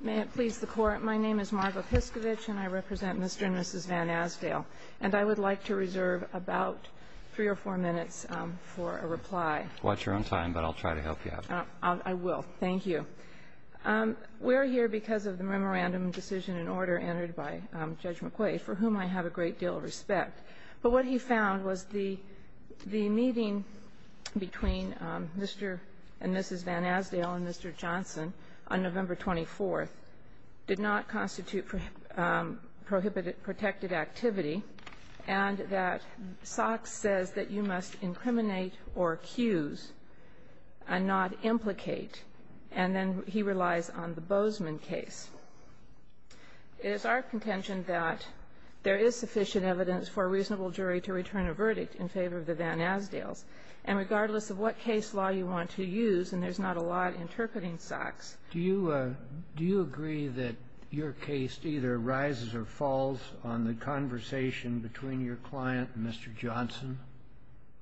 May it please the Court, my name is Margo Piskovic and I represent Mr. and Mrs. Van Asdale. And I would like to reserve about three or four minutes for a reply. Watch your own time, but I'll try to help you out. I will. Thank you. We're here because of the memorandum decision and order entered by Judge McQuaid, for whom I have a great deal of respect. But what he found was the meeting between Mr. and Mrs. Van Asdale and Mr. Johnson on November 24th did not constitute protected activity and that Sox says that you must incriminate or accuse and not implicate. And then he relies on the Bozeman case. It is our contention that there is sufficient evidence for a reasonable jury to return a verdict in favor of the Van Asdales. And regardless of what case law you want to use, and there's not a lot interpreting Sox. Do you agree that your case either rises or falls on the conversation between your client and Mr. Johnson?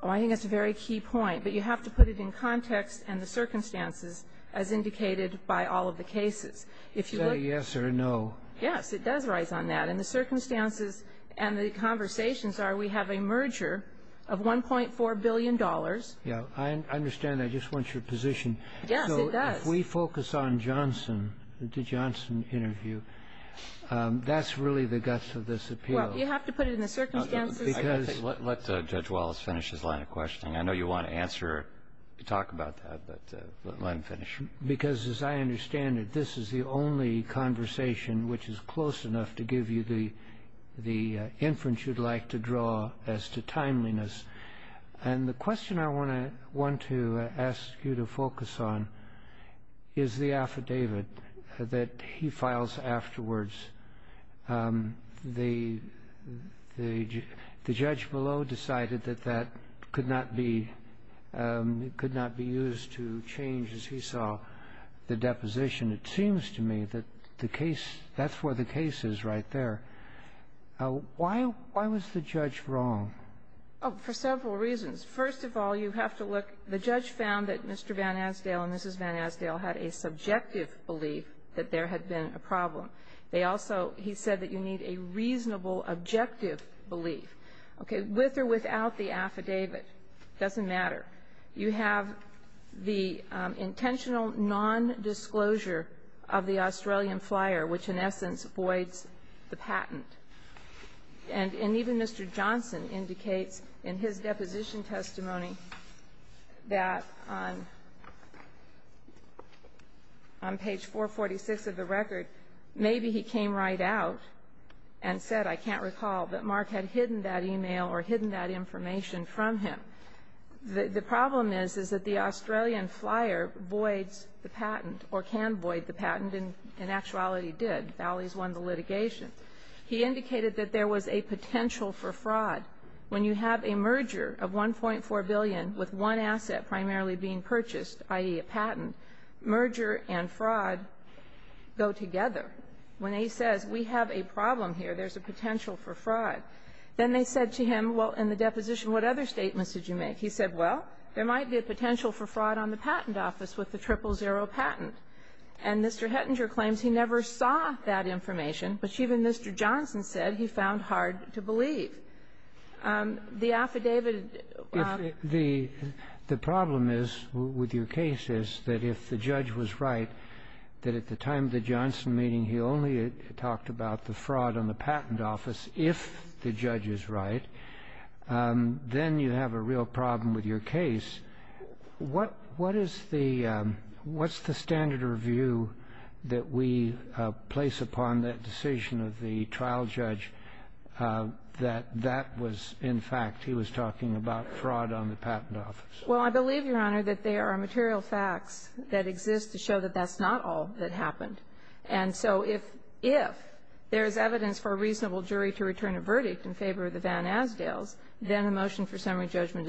Oh, I think that's a very key point. But you have to put it in context and the circumstances as indicated by all of the cases. Is that a yes or a no? Yes. It does rise on that. And the circumstances and the conversations are we have a merger of $1.4 billion. Yeah. I understand. I just want your position. Yes, it does. So if we focus on Johnson, the Johnson interview, that's really the guts of this appeal. Well, you have to put it in the circumstances. Let Judge Wallace finish his line of questioning. I know you want to answer or talk about that, but let him finish. Because as I understand it, this is the only conversation which is close enough to give you the inference you'd like to draw as to timeliness. And the question I want to ask you to focus on is the affidavit that he files afterwards. The judge below decided that that could not be used to change, as he saw, the deposition. It seems to me that the case that's where the case is right there. Why was the judge wrong? Oh, for several reasons. First of all, you have to look. The judge found that Mr. Van Asdale and Mrs. Van Asdale had a subjective belief that there had been a problem. They also, he said that you need a reasonable, objective belief. Okay, with or without the affidavit, it doesn't matter. You have the intentional nondisclosure of the Australian flyer, which in essence voids the patent. And even Mr. Johnson indicates in his deposition testimony that on page 446 of the record, maybe he came right out and said, I can't recall, that Mark had hidden that e-mail or hidden that information from him. The problem is, is that the Australian flyer voids the patent, or can void the patent, and in actuality did. Valley's won the litigation. He indicated that there was a potential for fraud. When you have a merger of $1.4 billion with one asset primarily being purchased, i.e., a patent, merger and fraud go together. When he says we have a problem here, there's a potential for fraud, then they said to him, well, in the deposition, what other statements did you make? He said, well, there might be a potential for fraud on the patent office with the triple zero patent. And Mr. Hettinger claims he never saw that information, but even Mr. Johnson said he found hard to believe. The affidavit of the ---- The problem is with your case is that if the judge was right, that at the time of the Johnson meeting, he only talked about the fraud on the patent office, if the judge is right, then you have a real problem with your case. What is the ---- what's the standard of view that we place upon that decision of the trial judge that that was, in fact, he was talking about fraud on the patent office? Well, I believe, Your Honor, that there are material facts that exist to show that that's not all that happened. And so if there's evidence for a reasonable jury to return a verdict in favor of the on a motion for summary judgment.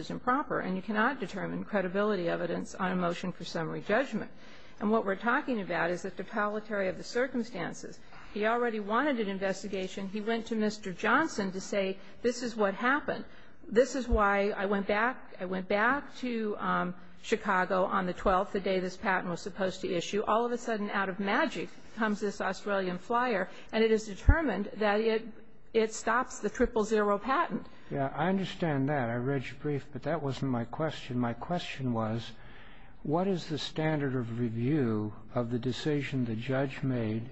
And what we're talking about is the topolitary of the circumstances. He already wanted an investigation. He went to Mr. Johnson to say this is what happened. This is why I went back to Chicago on the 12th, the day this patent was supposed to issue. All of a sudden, out of magic, comes this Australian flyer, and it is determined that it stops the triple zero patent. Yeah. I understand that. I read your brief. But that wasn't my question. My question was, what is the standard of review of the decision the judge made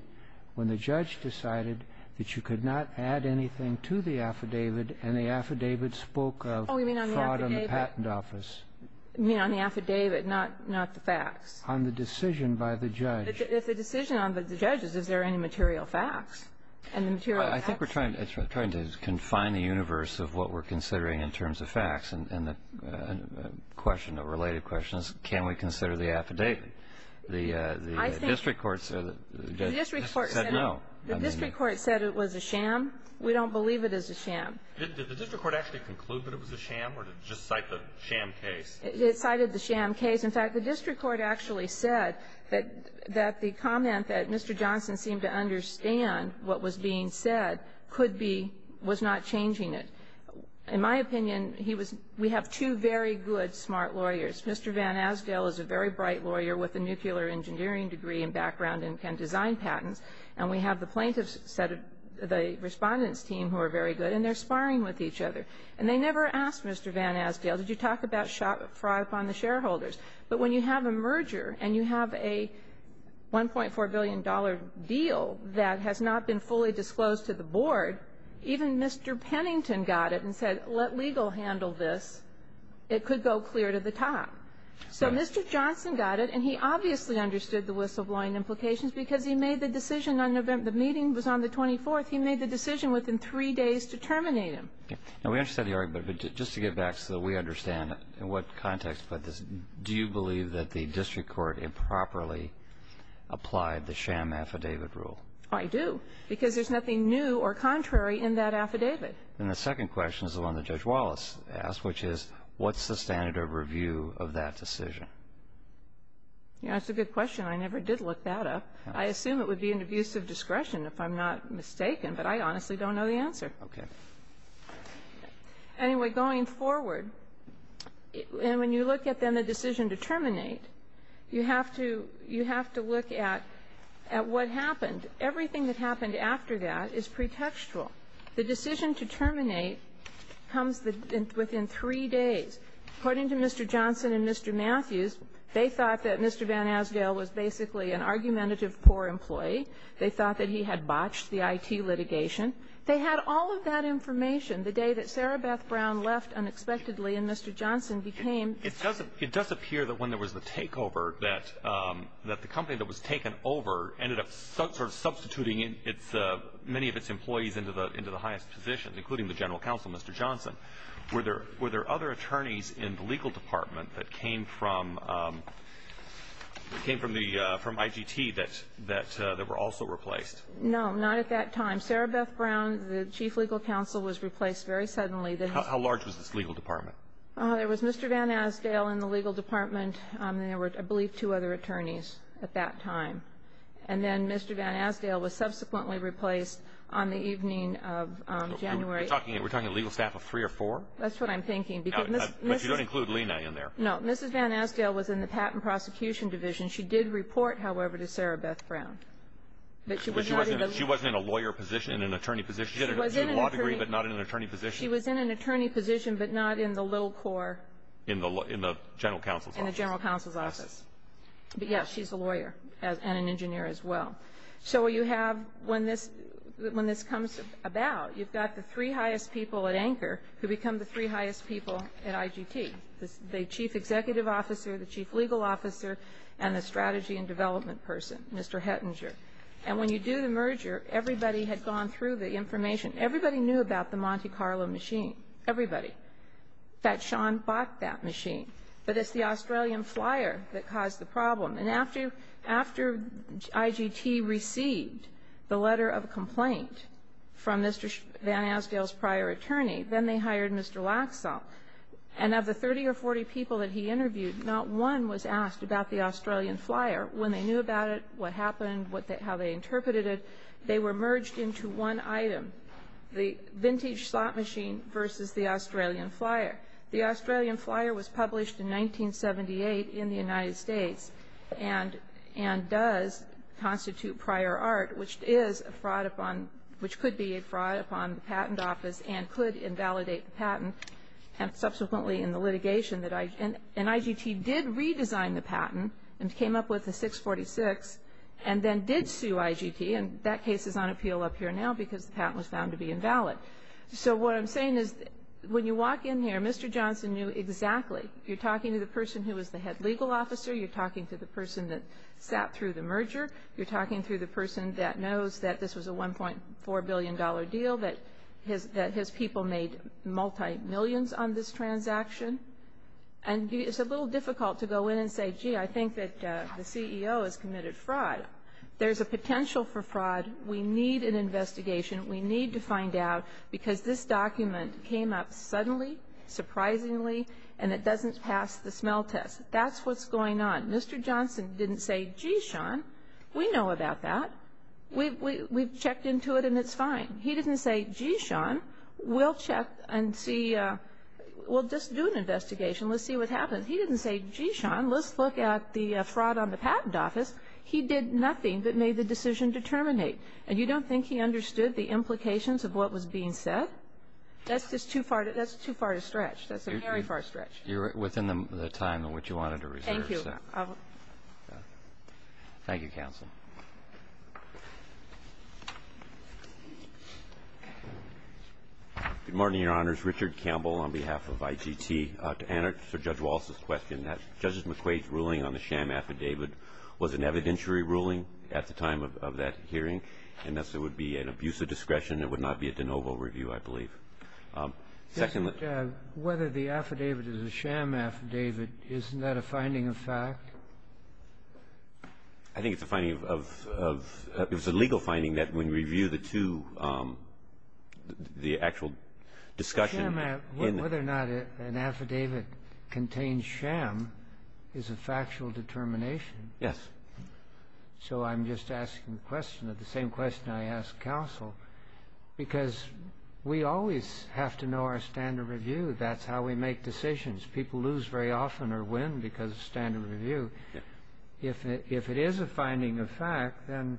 when the judge decided that you could not add anything to the affidavit, and the affidavit spoke of fraud on the patent office? Oh, you mean on the affidavit, not the facts? On the decision by the judge. If the decision on the judge's, is there any material facts? And the material facts ---- I think we're trying to confine the universe of what we're considering in terms of facts, and the question, the related question is, can we consider the affidavit? The district court said no. The district court said it was a sham. We don't believe it is a sham. Did the district court actually conclude that it was a sham, or did it just cite the sham case? It cited the sham case. In fact, the district court actually said that the comment that Mr. Johnson seemed to understand what was being said could be, was not changing it. In my opinion, he was, we have two very good, smart lawyers. Mr. Van Asgale is a very bright lawyer with a nuclear engineering degree and background in design patents, and we have the plaintiff's set of, the respondent's team who are very good, and they're sparring with each other. And they never asked Mr. Van Asgale, did you talk about fraud upon the shareholders? But when you have a merger, and you have a $1.4 billion deal that has not been fully disclosed to the board, even Mr. Pennington got it and said, let legal handle this. It could go clear to the top. So Mr. Johnson got it, and he obviously understood the whistleblowing implications because he made the decision on November, the meeting was on the 24th, he made the decision within three days to terminate him. Now, we understand the argument, but just to get back so that we understand in what context, but do you believe that the district court improperly applied the sham affidavit rule? I do. Because there's nothing new or contrary in that affidavit. And the second question is the one that Judge Wallace asked, which is, what's the standard of review of that decision? That's a good question. I never did look that up. I assume it would be an abuse of discretion, if I'm not mistaken, but I honestly don't know the answer. Okay. Anyway, going forward, and when you look at then the decision to terminate, you have to look at what happened. Everything that happened after that is pretextual. The decision to terminate comes within three days. According to Mr. Johnson and Mr. Matthews, they thought that Mr. Van Asgale was basically an argumentative poor employee. They thought that he had botched the I.T. litigation. They had all of that information the day that Sarah Beth Brown left unexpectedly and Mr. Johnson became the judge. It does appear that when there was the takeover, that the company that was taken over ended up sort of substituting many of its employees into the highest position, including the general counsel, Mr. Johnson. Were there other attorneys in the legal department that came from IGT that were also replaced? No, not at that time. Sarah Beth Brown, the chief legal counsel, was replaced very suddenly. How large was this legal department? There was Mr. Van Asgale in the legal department, and there were, I believe, two other attorneys at that time. And then Mr. Van Asgale was subsequently replaced on the evening of January. We're talking legal staff of three or four? That's what I'm thinking. But you don't include Lena in there? No. Mrs. Van Asgale was in the patent prosecution division. She did report, however, to Sarah Beth Brown. But she wasn't in a lawyer position, in an attorney position? She had a law degree but not in an attorney position? She was in an attorney position but not in the little core. In the general counsel's office? In the general counsel's office. But, yes, she's a lawyer and an engineer as well. So you have, when this comes about, you've got the three highest people at anchor who become the three highest people at IGT, the chief executive officer, the chief legal officer, and the strategy and development person, Mr. Hettinger. And when you do the merger, everybody had gone through the information. Everybody knew about the Monte Carlo machine. Everybody. In fact, Sean bought that machine. But it's the Australian flyer that caused the problem. And after IGT received the letter of complaint from Mr. Van Asgale's prior attorney, then they hired Mr. Laxall. And of the 30 or 40 people that he interviewed, not one was asked about the Australian flyer. When they knew about it, what happened, how they interpreted it, they were merged into one item, the vintage slot machine versus the Australian flyer. The Australian flyer was published in 1978 in the United States and does constitute prior art, which is a fraud upon, which could be a fraud upon the patent office and could invalidate the patent, and subsequently in the litigation. And IGT did redesign the patent and came up with a 646 and then did sue IGT. And that case is on appeal up here now because the patent was found to be invalid. So what I'm saying is when you walk in here, Mr. Johnson knew exactly. You're talking to the person who was the head legal officer. You're talking to the person that sat through the merger. You're talking to the person that knows that this was a $1.4 billion deal, that his people made multi-millions on this transaction. And it's a little difficult to go in and say, gee, I think that the CEO has committed fraud. There's a potential for fraud. We need an investigation. We need to find out because this document came up suddenly, surprisingly, and it doesn't pass the smell test. That's what's going on. Mr. Johnson didn't say, gee, Sean, we know about that. We've checked into it and it's fine. He didn't say, gee, Sean, we'll check and see we'll just do an investigation. Let's see what happens. He didn't say, gee, Sean, let's look at the fraud on the patent office. He did nothing but made the decision to terminate. And you don't think he understood the implications of what was being said? That's just too far to stretch. That's a very far stretch. You're within the time that you wanted to reserve. Thank you. Thank you, counsel. Good morning, Your Honors. Richard Campbell on behalf of IGT. To answer Judge Walz's question, that Judge McQuade's ruling on the sham affidavit was an evidentiary ruling at the time of that hearing, and thus it would be an abuse of discretion. It would not be a de novo review, I believe. Second, whether the affidavit is a sham affidavit, isn't that a finding of fact? I think it's a legal finding that when you review the two, the actual discussion. Whether or not an affidavit contains sham is a factual determination. Yes. So I'm just asking the question of the same question I asked counsel, because we always have to know our standard review. That's how we make decisions. People lose very often or win because of standard review. If it is a finding of fact, then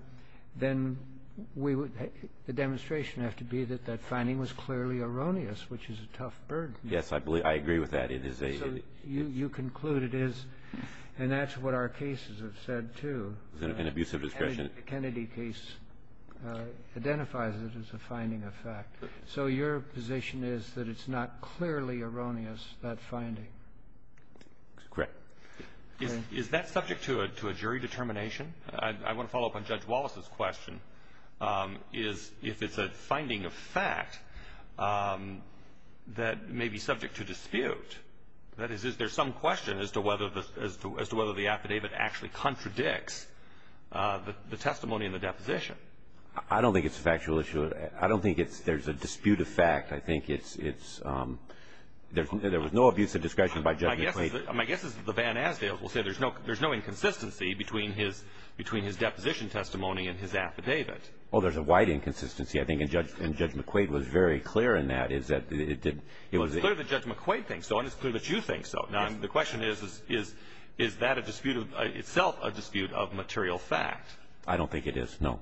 the demonstration would have to be that that finding was clearly erroneous, which is a tough burden. Yes, I agree with that. So you conclude it is, and that's what our cases have said, too. It's an abuse of discretion. The Kennedy case identifies it as a finding of fact. So your position is that it's not clearly erroneous, that finding. Correct. Is that subject to a jury determination? I want to follow up on Judge Walz's question. If it's a finding of fact that may be subject to dispute, that is, is there some question as to whether the affidavit actually contradicts the testimony in the deposition? I don't think it's a factual issue. I don't think there's a dispute of fact. I think there was no abuse of discretion by Judge McRae. My guess is that the Van Asdaels will say there's no inconsistency between his deposition testimony and his affidavit. Oh, there's a wide inconsistency. I think Judge McQuaid was very clear in that. It was clear that Judge McQuaid thinks so, and it's clear that you think so. The question is, is that itself a dispute of material fact? I don't think it is, no.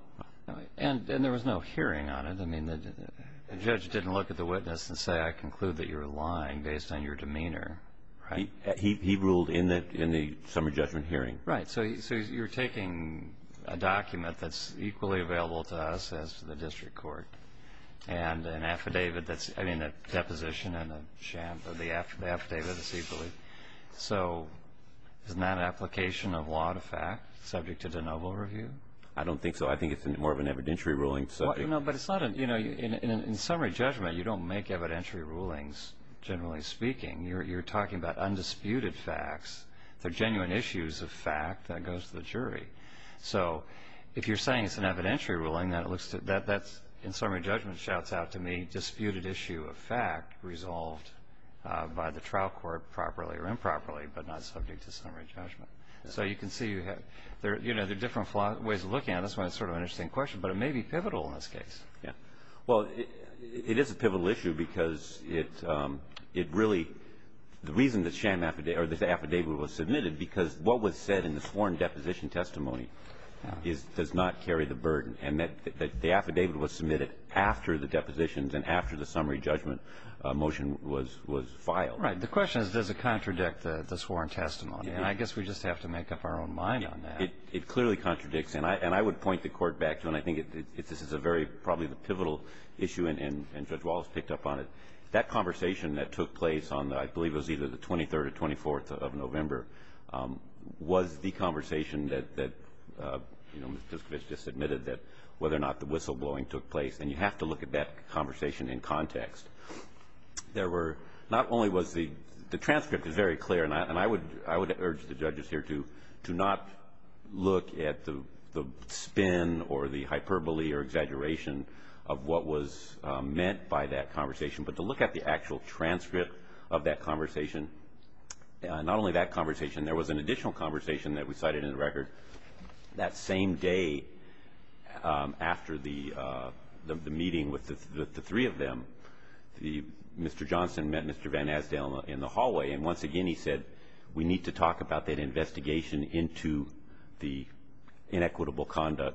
And there was no hearing on it. I mean, the judge didn't look at the witness and say, I conclude that you're lying based on your demeanor. He ruled in the summer judgment hearing. Right. So you're taking a document that's equally available to us as to the district court and an affidavit that's, I mean, a deposition and a sham, but the affidavit is equally. So isn't that an application of law to fact subject to de novo review? I don't think so. I think it's more of an evidentiary ruling. No, but it's not a, you know, in a summary judgment, you don't make evidentiary rulings, generally speaking. You're talking about undisputed facts. They're genuine issues of fact that goes to the jury. So if you're saying it's an evidentiary ruling, that in summary judgment shouts out to me, disputed issue of fact resolved by the trial court properly or improperly, but not subject to summary judgment. So you can see, you know, there are different ways of looking at it. That's why it's sort of an interesting question. But it may be pivotal in this case. Yeah. Well, it is a pivotal issue because it really, the reason that this affidavit was submitted, because what was said in the sworn deposition testimony does not carry the burden, and that the affidavit was submitted after the depositions and after the summary judgment motion was filed. Right. The question is, does it contradict the sworn testimony? And I guess we just have to make up our own mind on that. It clearly contradicts. And I would point the Court back to, and I think this is a very, probably the pivotal issue, and Judge Wallace picked up on it. That conversation that took place on the, I believe it was either the 23rd or 24th of November, was the conversation that, you know, Ms. Piskovic just admitted that whether or not the whistleblowing took place. And you have to look at that conversation in context. There were, not only was the, the transcript is very clear, and I would urge the judges here to not look at the spin or the hyperbole or exaggeration of what was meant by that conversation, but to look at the actual transcript of that conversation. Not only that conversation, there was an additional conversation that we cited in the record. That same day after the meeting with the three of them, Mr. Johnson met Mr. Van Asdale in the hallway, and once again he said we need to talk about that investigation into the That's not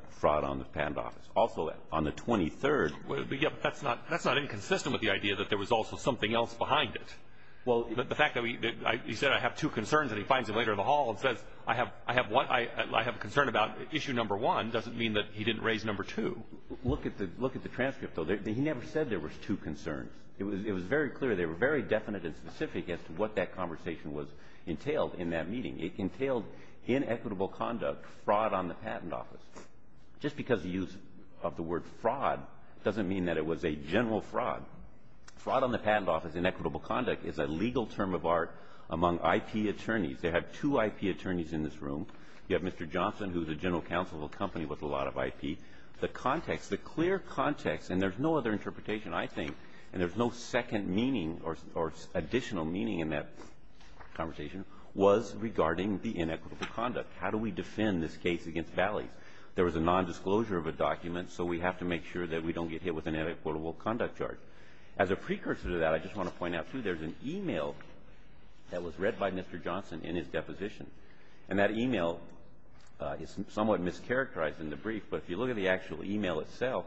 inconsistent with the idea that there was also something else behind it. The fact that he said I have two concerns, and he finds him later in the hall and says I have a concern about issue number one doesn't mean that he didn't raise number two. Look at the transcript, though. He never said there was two concerns. It was very clear. They were very definite and specific as to what that conversation was entailed in that meeting. It entailed inequitable conduct, fraud on the patent office. Just because the use of the word fraud doesn't mean that it was a general fraud. Fraud on the patent office, inequitable conduct, is a legal term of art among IP attorneys. They have two IP attorneys in this room. You have Mr. Johnson, who is a general counsel of a company with a lot of IP. The context, the clear context, and there's no other interpretation, I think, and there's no second meaning or additional meaning in that conversation, was regarding the inequitable conduct. How do we defend this case against Valleys? There was a nondisclosure of a document, so we have to make sure that we don't get hit with an inequitable conduct charge. As a precursor to that, I just want to point out, too, there's an e-mail that was read by Mr. Johnson in his deposition, and that e-mail is somewhat mischaracterized in the brief, but if you look at the actual e-mail itself,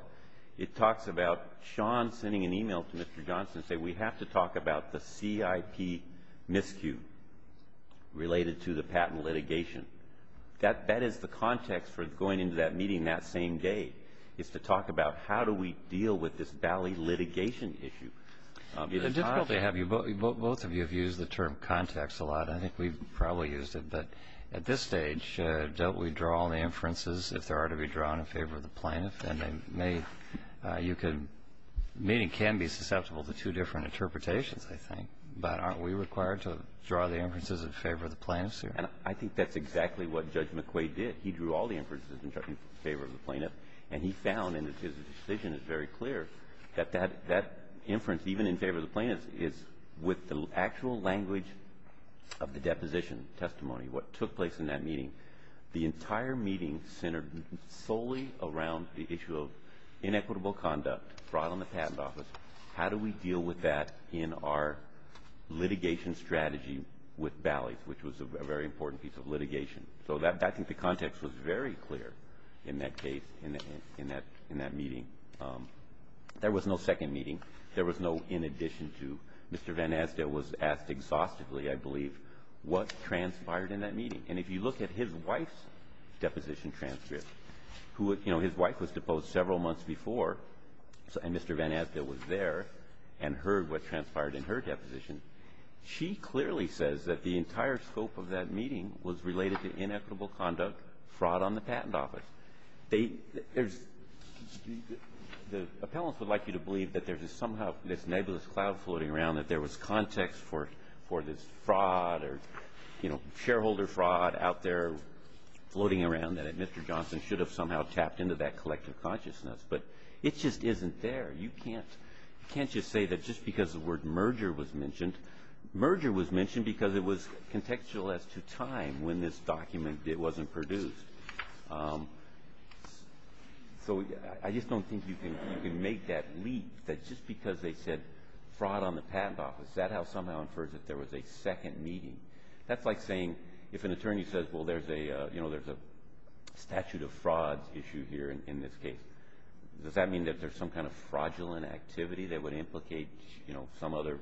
it talks about Sean sending an e-mail to Mr. Johnson saying we have to talk about the CIP miscue related to the patent litigation. That is the context for going into that meeting that same day, is to talk about how do we deal with this Valley litigation issue. It's hard to have you both of you have used the term context a lot. I think we've probably used it, but at this stage, don't we draw on the inferences if there are to be drawn in favor of the plaintiff? And you can be susceptible to two different interpretations, I think, but aren't we required to draw the inferences in favor of the plaintiffs here? And I think that's exactly what Judge McQuaid did. He drew all the inferences in favor of the plaintiff, and he found, and his decision is very clear, that that inference, even in favor of the plaintiffs, is with the actual language of the deposition testimony, what took place in that meeting. The entire meeting centered solely around the issue of inequitable conduct, fraud on the patent office. How do we deal with that in our litigation strategy with Valleys, which was a very important piece of litigation? So I think the context was very clear in that case, in that meeting. There was no second meeting. There was no in addition to. Mr. Van Asdael was asked exhaustively, I believe, what transpired in that meeting. And if you look at his wife's deposition transcript, who his wife was deposed several months before, and Mr. Van Asdael was there and heard what transpired in her deposition, she clearly says that the entire scope of that meeting was related to inequitable conduct, fraud on the patent office. The appellants would like you to believe that there is somehow this nebulous cloud floating around, that there was context for this fraud or, you know, shareholder fraud out there floating around, that Mr. Johnson should have somehow tapped into that collective consciousness. But it just isn't there. You can't just say that just because the word merger was mentioned, merger was mentioned because it was contextual as to time when this document wasn't produced. So I just don't think you can make that leap, that just because they said fraud on the patent office, that somehow infers that there was a second meeting. That's like saying if an attorney says, well, there's a statute of fraud issue here in this case. Does that mean that there's some kind of fraudulent activity that would implicate some other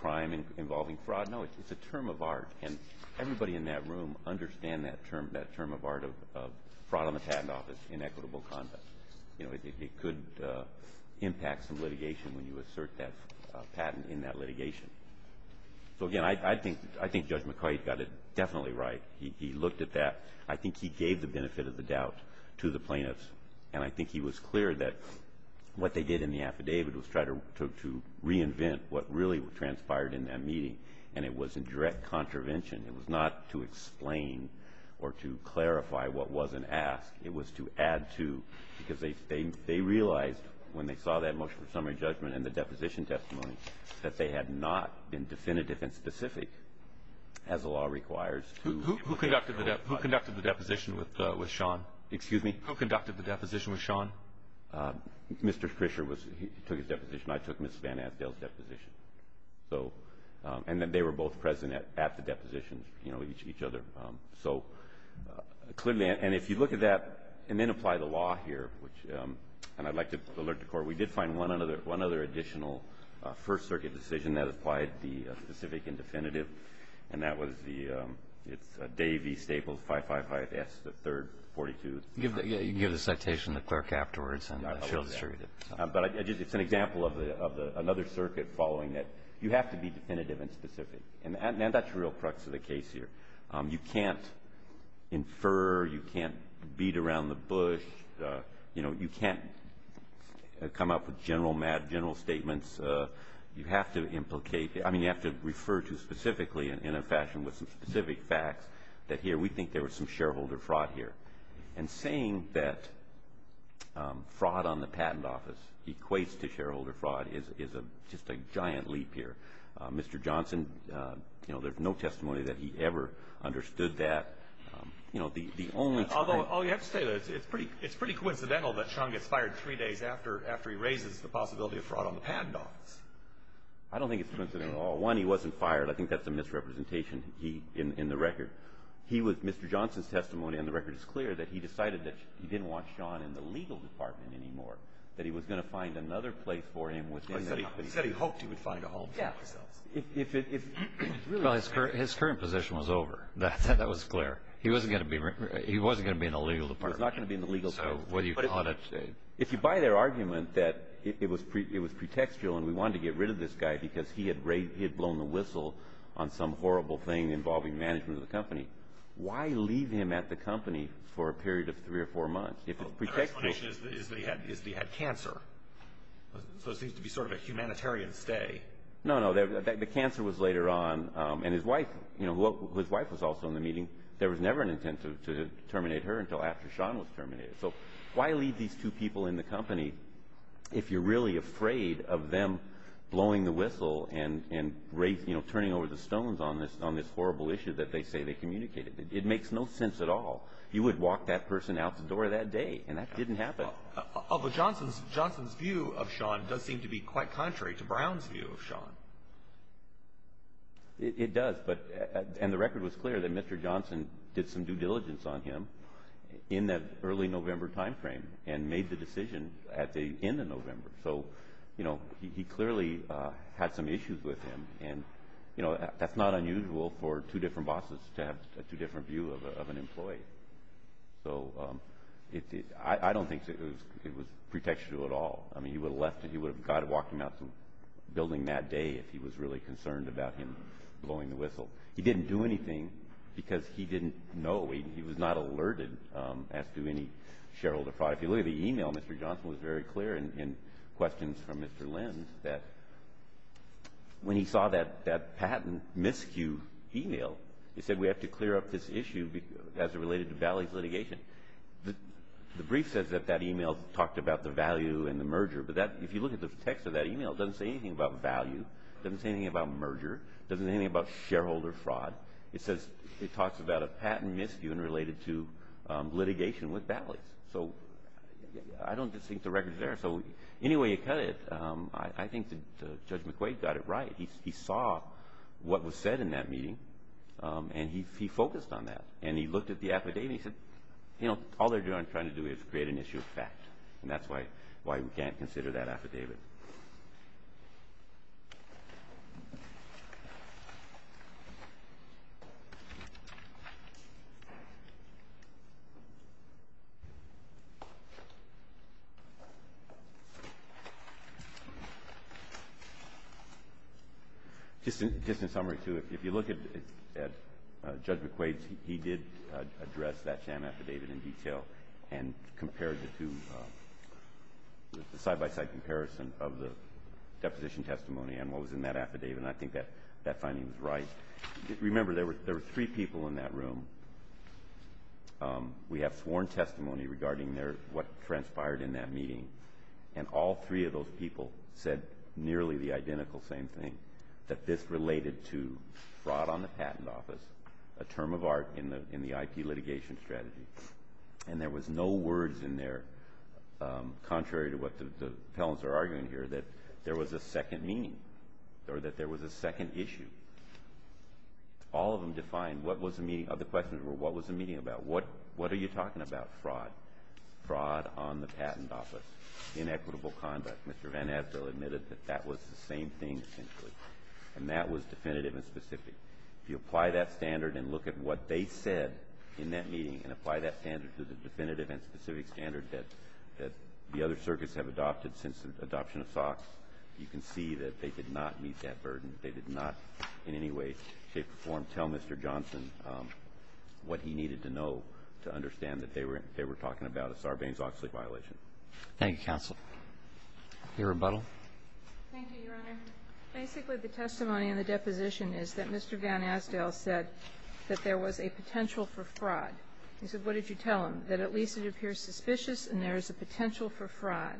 crime involving fraud? No, it's a term of art, and everybody in that room understands that term of art of fraud on the patent office, inequitable conduct. It could impact some litigation when you assert that patent in that litigation. So, again, I think Judge McCoy got it definitely right. He looked at that. I think he gave the benefit of the doubt to the plaintiffs, and I think he was clear that what they did in the affidavit was try to reinvent what really transpired in that meeting, and it was a direct contravention. It was not to explain or to clarify what wasn't asked. It was to add to because they realized when they saw that motion for summary judgment and the deposition testimony that they had not been definitive and specific as the law requires. Who conducted the deposition with Sean? Excuse me? Who conducted the deposition with Sean? Mr. Krischer took his deposition. I took Ms. Van Asdale's deposition. And they were both present at the deposition, each other. So, clearly, and if you look at that and then apply the law here, and I'd like to alert the Court we did find one other additional First Circuit decision that applied the specific and definitive, and that was the Davey-Staples 555S, the third, 42. You can give the citation to the clerk afterwards and she'll distribute it. But it's an example of another circuit following it. You have to be definitive and specific, and that's the real crux of the case here. You can't infer. You can't beat around the bush. You know, you can't come up with general statements. I mean, you have to refer to specifically in a fashion with some specific facts that here we think there was some shareholder fraud here. And saying that fraud on the patent office equates to shareholder fraud is just a giant leap here. Mr. Johnson, you know, there's no testimony that he ever understood that. Although, you have to say that it's pretty coincidental that Sean gets fired three days after he raises the possibility of fraud on the patent office. I don't think it's coincidental at all. One, he wasn't fired. I think that's a misrepresentation in the record. He was Mr. Johnson's testimony, and the record is clear, that he decided that he didn't want Sean in the legal department anymore, that he was going to find another place for him within the legal department. He said he hoped he would find a home for himself. Well, his current position was over. That was clear. He wasn't going to be in the legal department. He was not going to be in the legal department. If you buy their argument that it was pretextual and we wanted to get rid of this guy because he had blown the whistle on some horrible thing involving management of the company, why leave him at the company for a period of three or four months if it's pretextual? Their explanation is they had cancer. So it seems to be sort of a humanitarian stay. No, no. The cancer was later on, and his wife was also in the meeting. There was never an intent to terminate her until after Sean was terminated. So why leave these two people in the company if you're really afraid of them blowing the whistle and turning over the stones on this horrible issue that they say they communicated? It makes no sense at all. You would walk that person out the door that day, and that didn't happen. Although Johnson's view of Sean does seem to be quite contrary to Brown's view of Sean. It does, and the record was clear that Mr. Johnson did some due diligence on him in that early November time frame and made the decision at the end of November. So, you know, he clearly had some issues with him, and that's not unusual for two different bosses to have two different views of an employee. So I don't think it was pretextual at all. I mean, God would have walked him out the building that day if he was really concerned about him blowing the whistle. He didn't do anything because he didn't know. He was not alerted as to any shareholder fraud. If you look at the e-mail, Mr. Johnson was very clear in questions from Mr. Lynn that when he saw that patent miscue e-mail, he said, we have to clear up this issue as it related to Valley's litigation. The brief says that that e-mail talked about the value and the merger, but if you look at the text of that e-mail, it doesn't say anything about value, doesn't say anything about merger, doesn't say anything about shareholder fraud. It says it talks about a patent miscue and related to litigation with Valley's. So I don't think the record is there. So any way you cut it, I think that Judge McQuaid got it right. He saw what was said in that meeting, and he focused on that. And he looked at the affidavit and he said, you know, all they're trying to do is create an issue of fact, and that's why we can't consider that affidavit. Just in summary, too, if you look at Judge McQuaid's, he did address that sham affidavit in detail and compared it to the side-by-side comparison of the deposition testimony and what was in that affidavit, and I think that finding was right. Remember, there were three people in that room. We have sworn testimony regarding what transpired in that meeting, and all three of those people said nearly the identical same thing, that this related to fraud on the patent office, a term of art in the IP litigation strategy. And there was no words in there, contrary to what the appellants are arguing here, that there was a second meaning or that there was a second issue. All of them defined what was the meeting. The questions were, what was the meeting about? What are you talking about? Fraud. Fraud on the patent office. Inequitable conduct. Mr. Van Assel admitted that that was the same thing, essentially, and that was definitive and specific. If you apply that standard and look at what they said in that meeting and apply that standard to the definitive and specific standard that the other circuits have adopted since the adoption of SOX, you can see that they did not meet that burden. They did not in any way, shape, or form tell Mr. Johnson what he needed to know to understand that they were talking about a Sarbanes-Oxley violation. Thank you, counsel. Your rebuttal. Thank you, Your Honor. Basically, the testimony in the deposition is that Mr. Van Assel said that there was a potential for fraud. He said, what did you tell him? That at least it appears suspicious and there is a potential for fraud.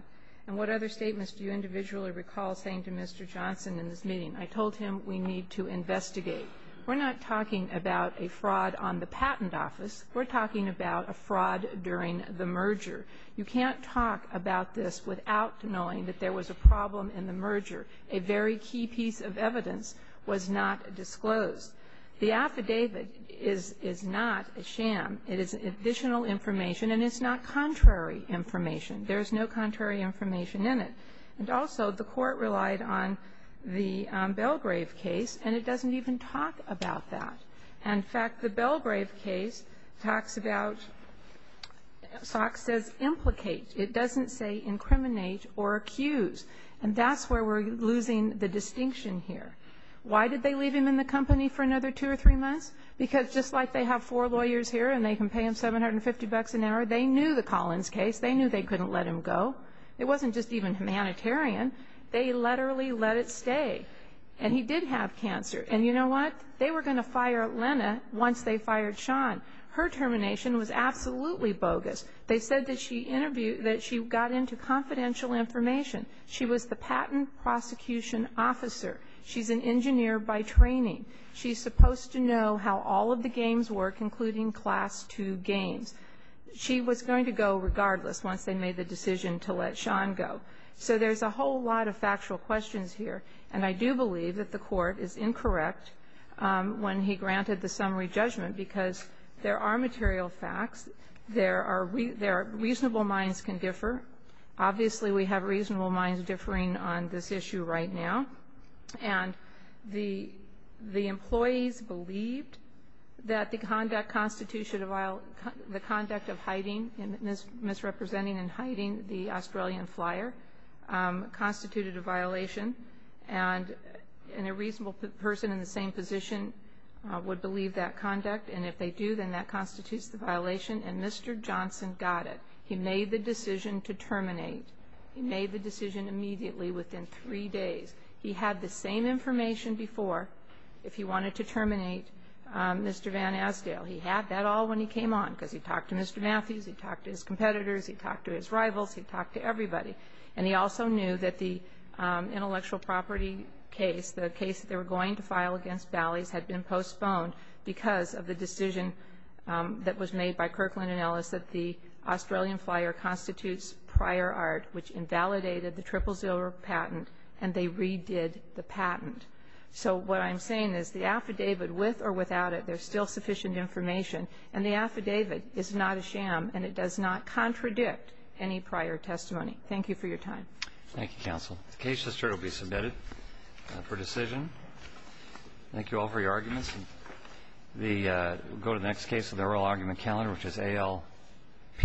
And what other statements do you individually recall saying to Mr. Johnson in this meeting? I told him we need to investigate. We're not talking about a fraud on the patent office. We're talking about a fraud during the merger. You can't talk about this without knowing that there was a problem in the merger. A very key piece of evidence was not disclosed. The affidavit is not a sham. It is additional information, and it's not contrary information. There is no contrary information in it. And also, the Court relied on the Belgrave case, and it doesn't even talk about the Belgrave case. In fact, the Belgrave case talks about, SOC says implicate. It doesn't say incriminate or accuse. And that's where we're losing the distinction here. Why did they leave him in the company for another two or three months? Because just like they have four lawyers here and they can pay him $750 an hour, they knew the Collins case. They knew they couldn't let him go. It wasn't just even humanitarian. They literally let it stay. And he did have cancer. And you know what? They were going to fire Lena once they fired Sean. Her termination was absolutely bogus. They said that she got into confidential information. She was the patent prosecution officer. She's an engineer by training. She's supposed to know how all of the games work, including Class II games. She was going to go regardless once they made the decision to let Sean go. So there's a whole lot of factual questions here. And I do believe that the Court is incorrect when he granted the summary judgment because there are material facts. There are reasonable minds can differ. Obviously, we have reasonable minds differing on this issue right now. And the employees believed that the conduct of hiding and misrepresenting and hiding the Australian flyer constituted a violation. And a reasonable person in the same position would believe that conduct. And if they do, then that constitutes the violation. And Mr. Johnson got it. He made the decision to terminate. He made the decision immediately within three days. He had the same information before if he wanted to terminate Mr. Van Asdale. He had that all when he came on because he talked to Mr. Matthews, he talked to his competitors, he talked to his rivals, he talked to everybody. And he also knew that the intellectual property case, the case that they were going to file against Bally's had been postponed because of the decision that was made by Kirkland and Ellis that the Australian flyer constitutes prior art, which invalidated the triple zero patent, and they redid the patent. So what I'm saying is the affidavit, with or without it, there's still sufficient information. And the affidavit is not a sham, and it does not contradict any prior testimony. Thank you for your time. Thank you, counsel. The case history will be submitted for decision. Thank you all for your arguments. We'll go to the next case of the oral argument calendar, which is A.L.P.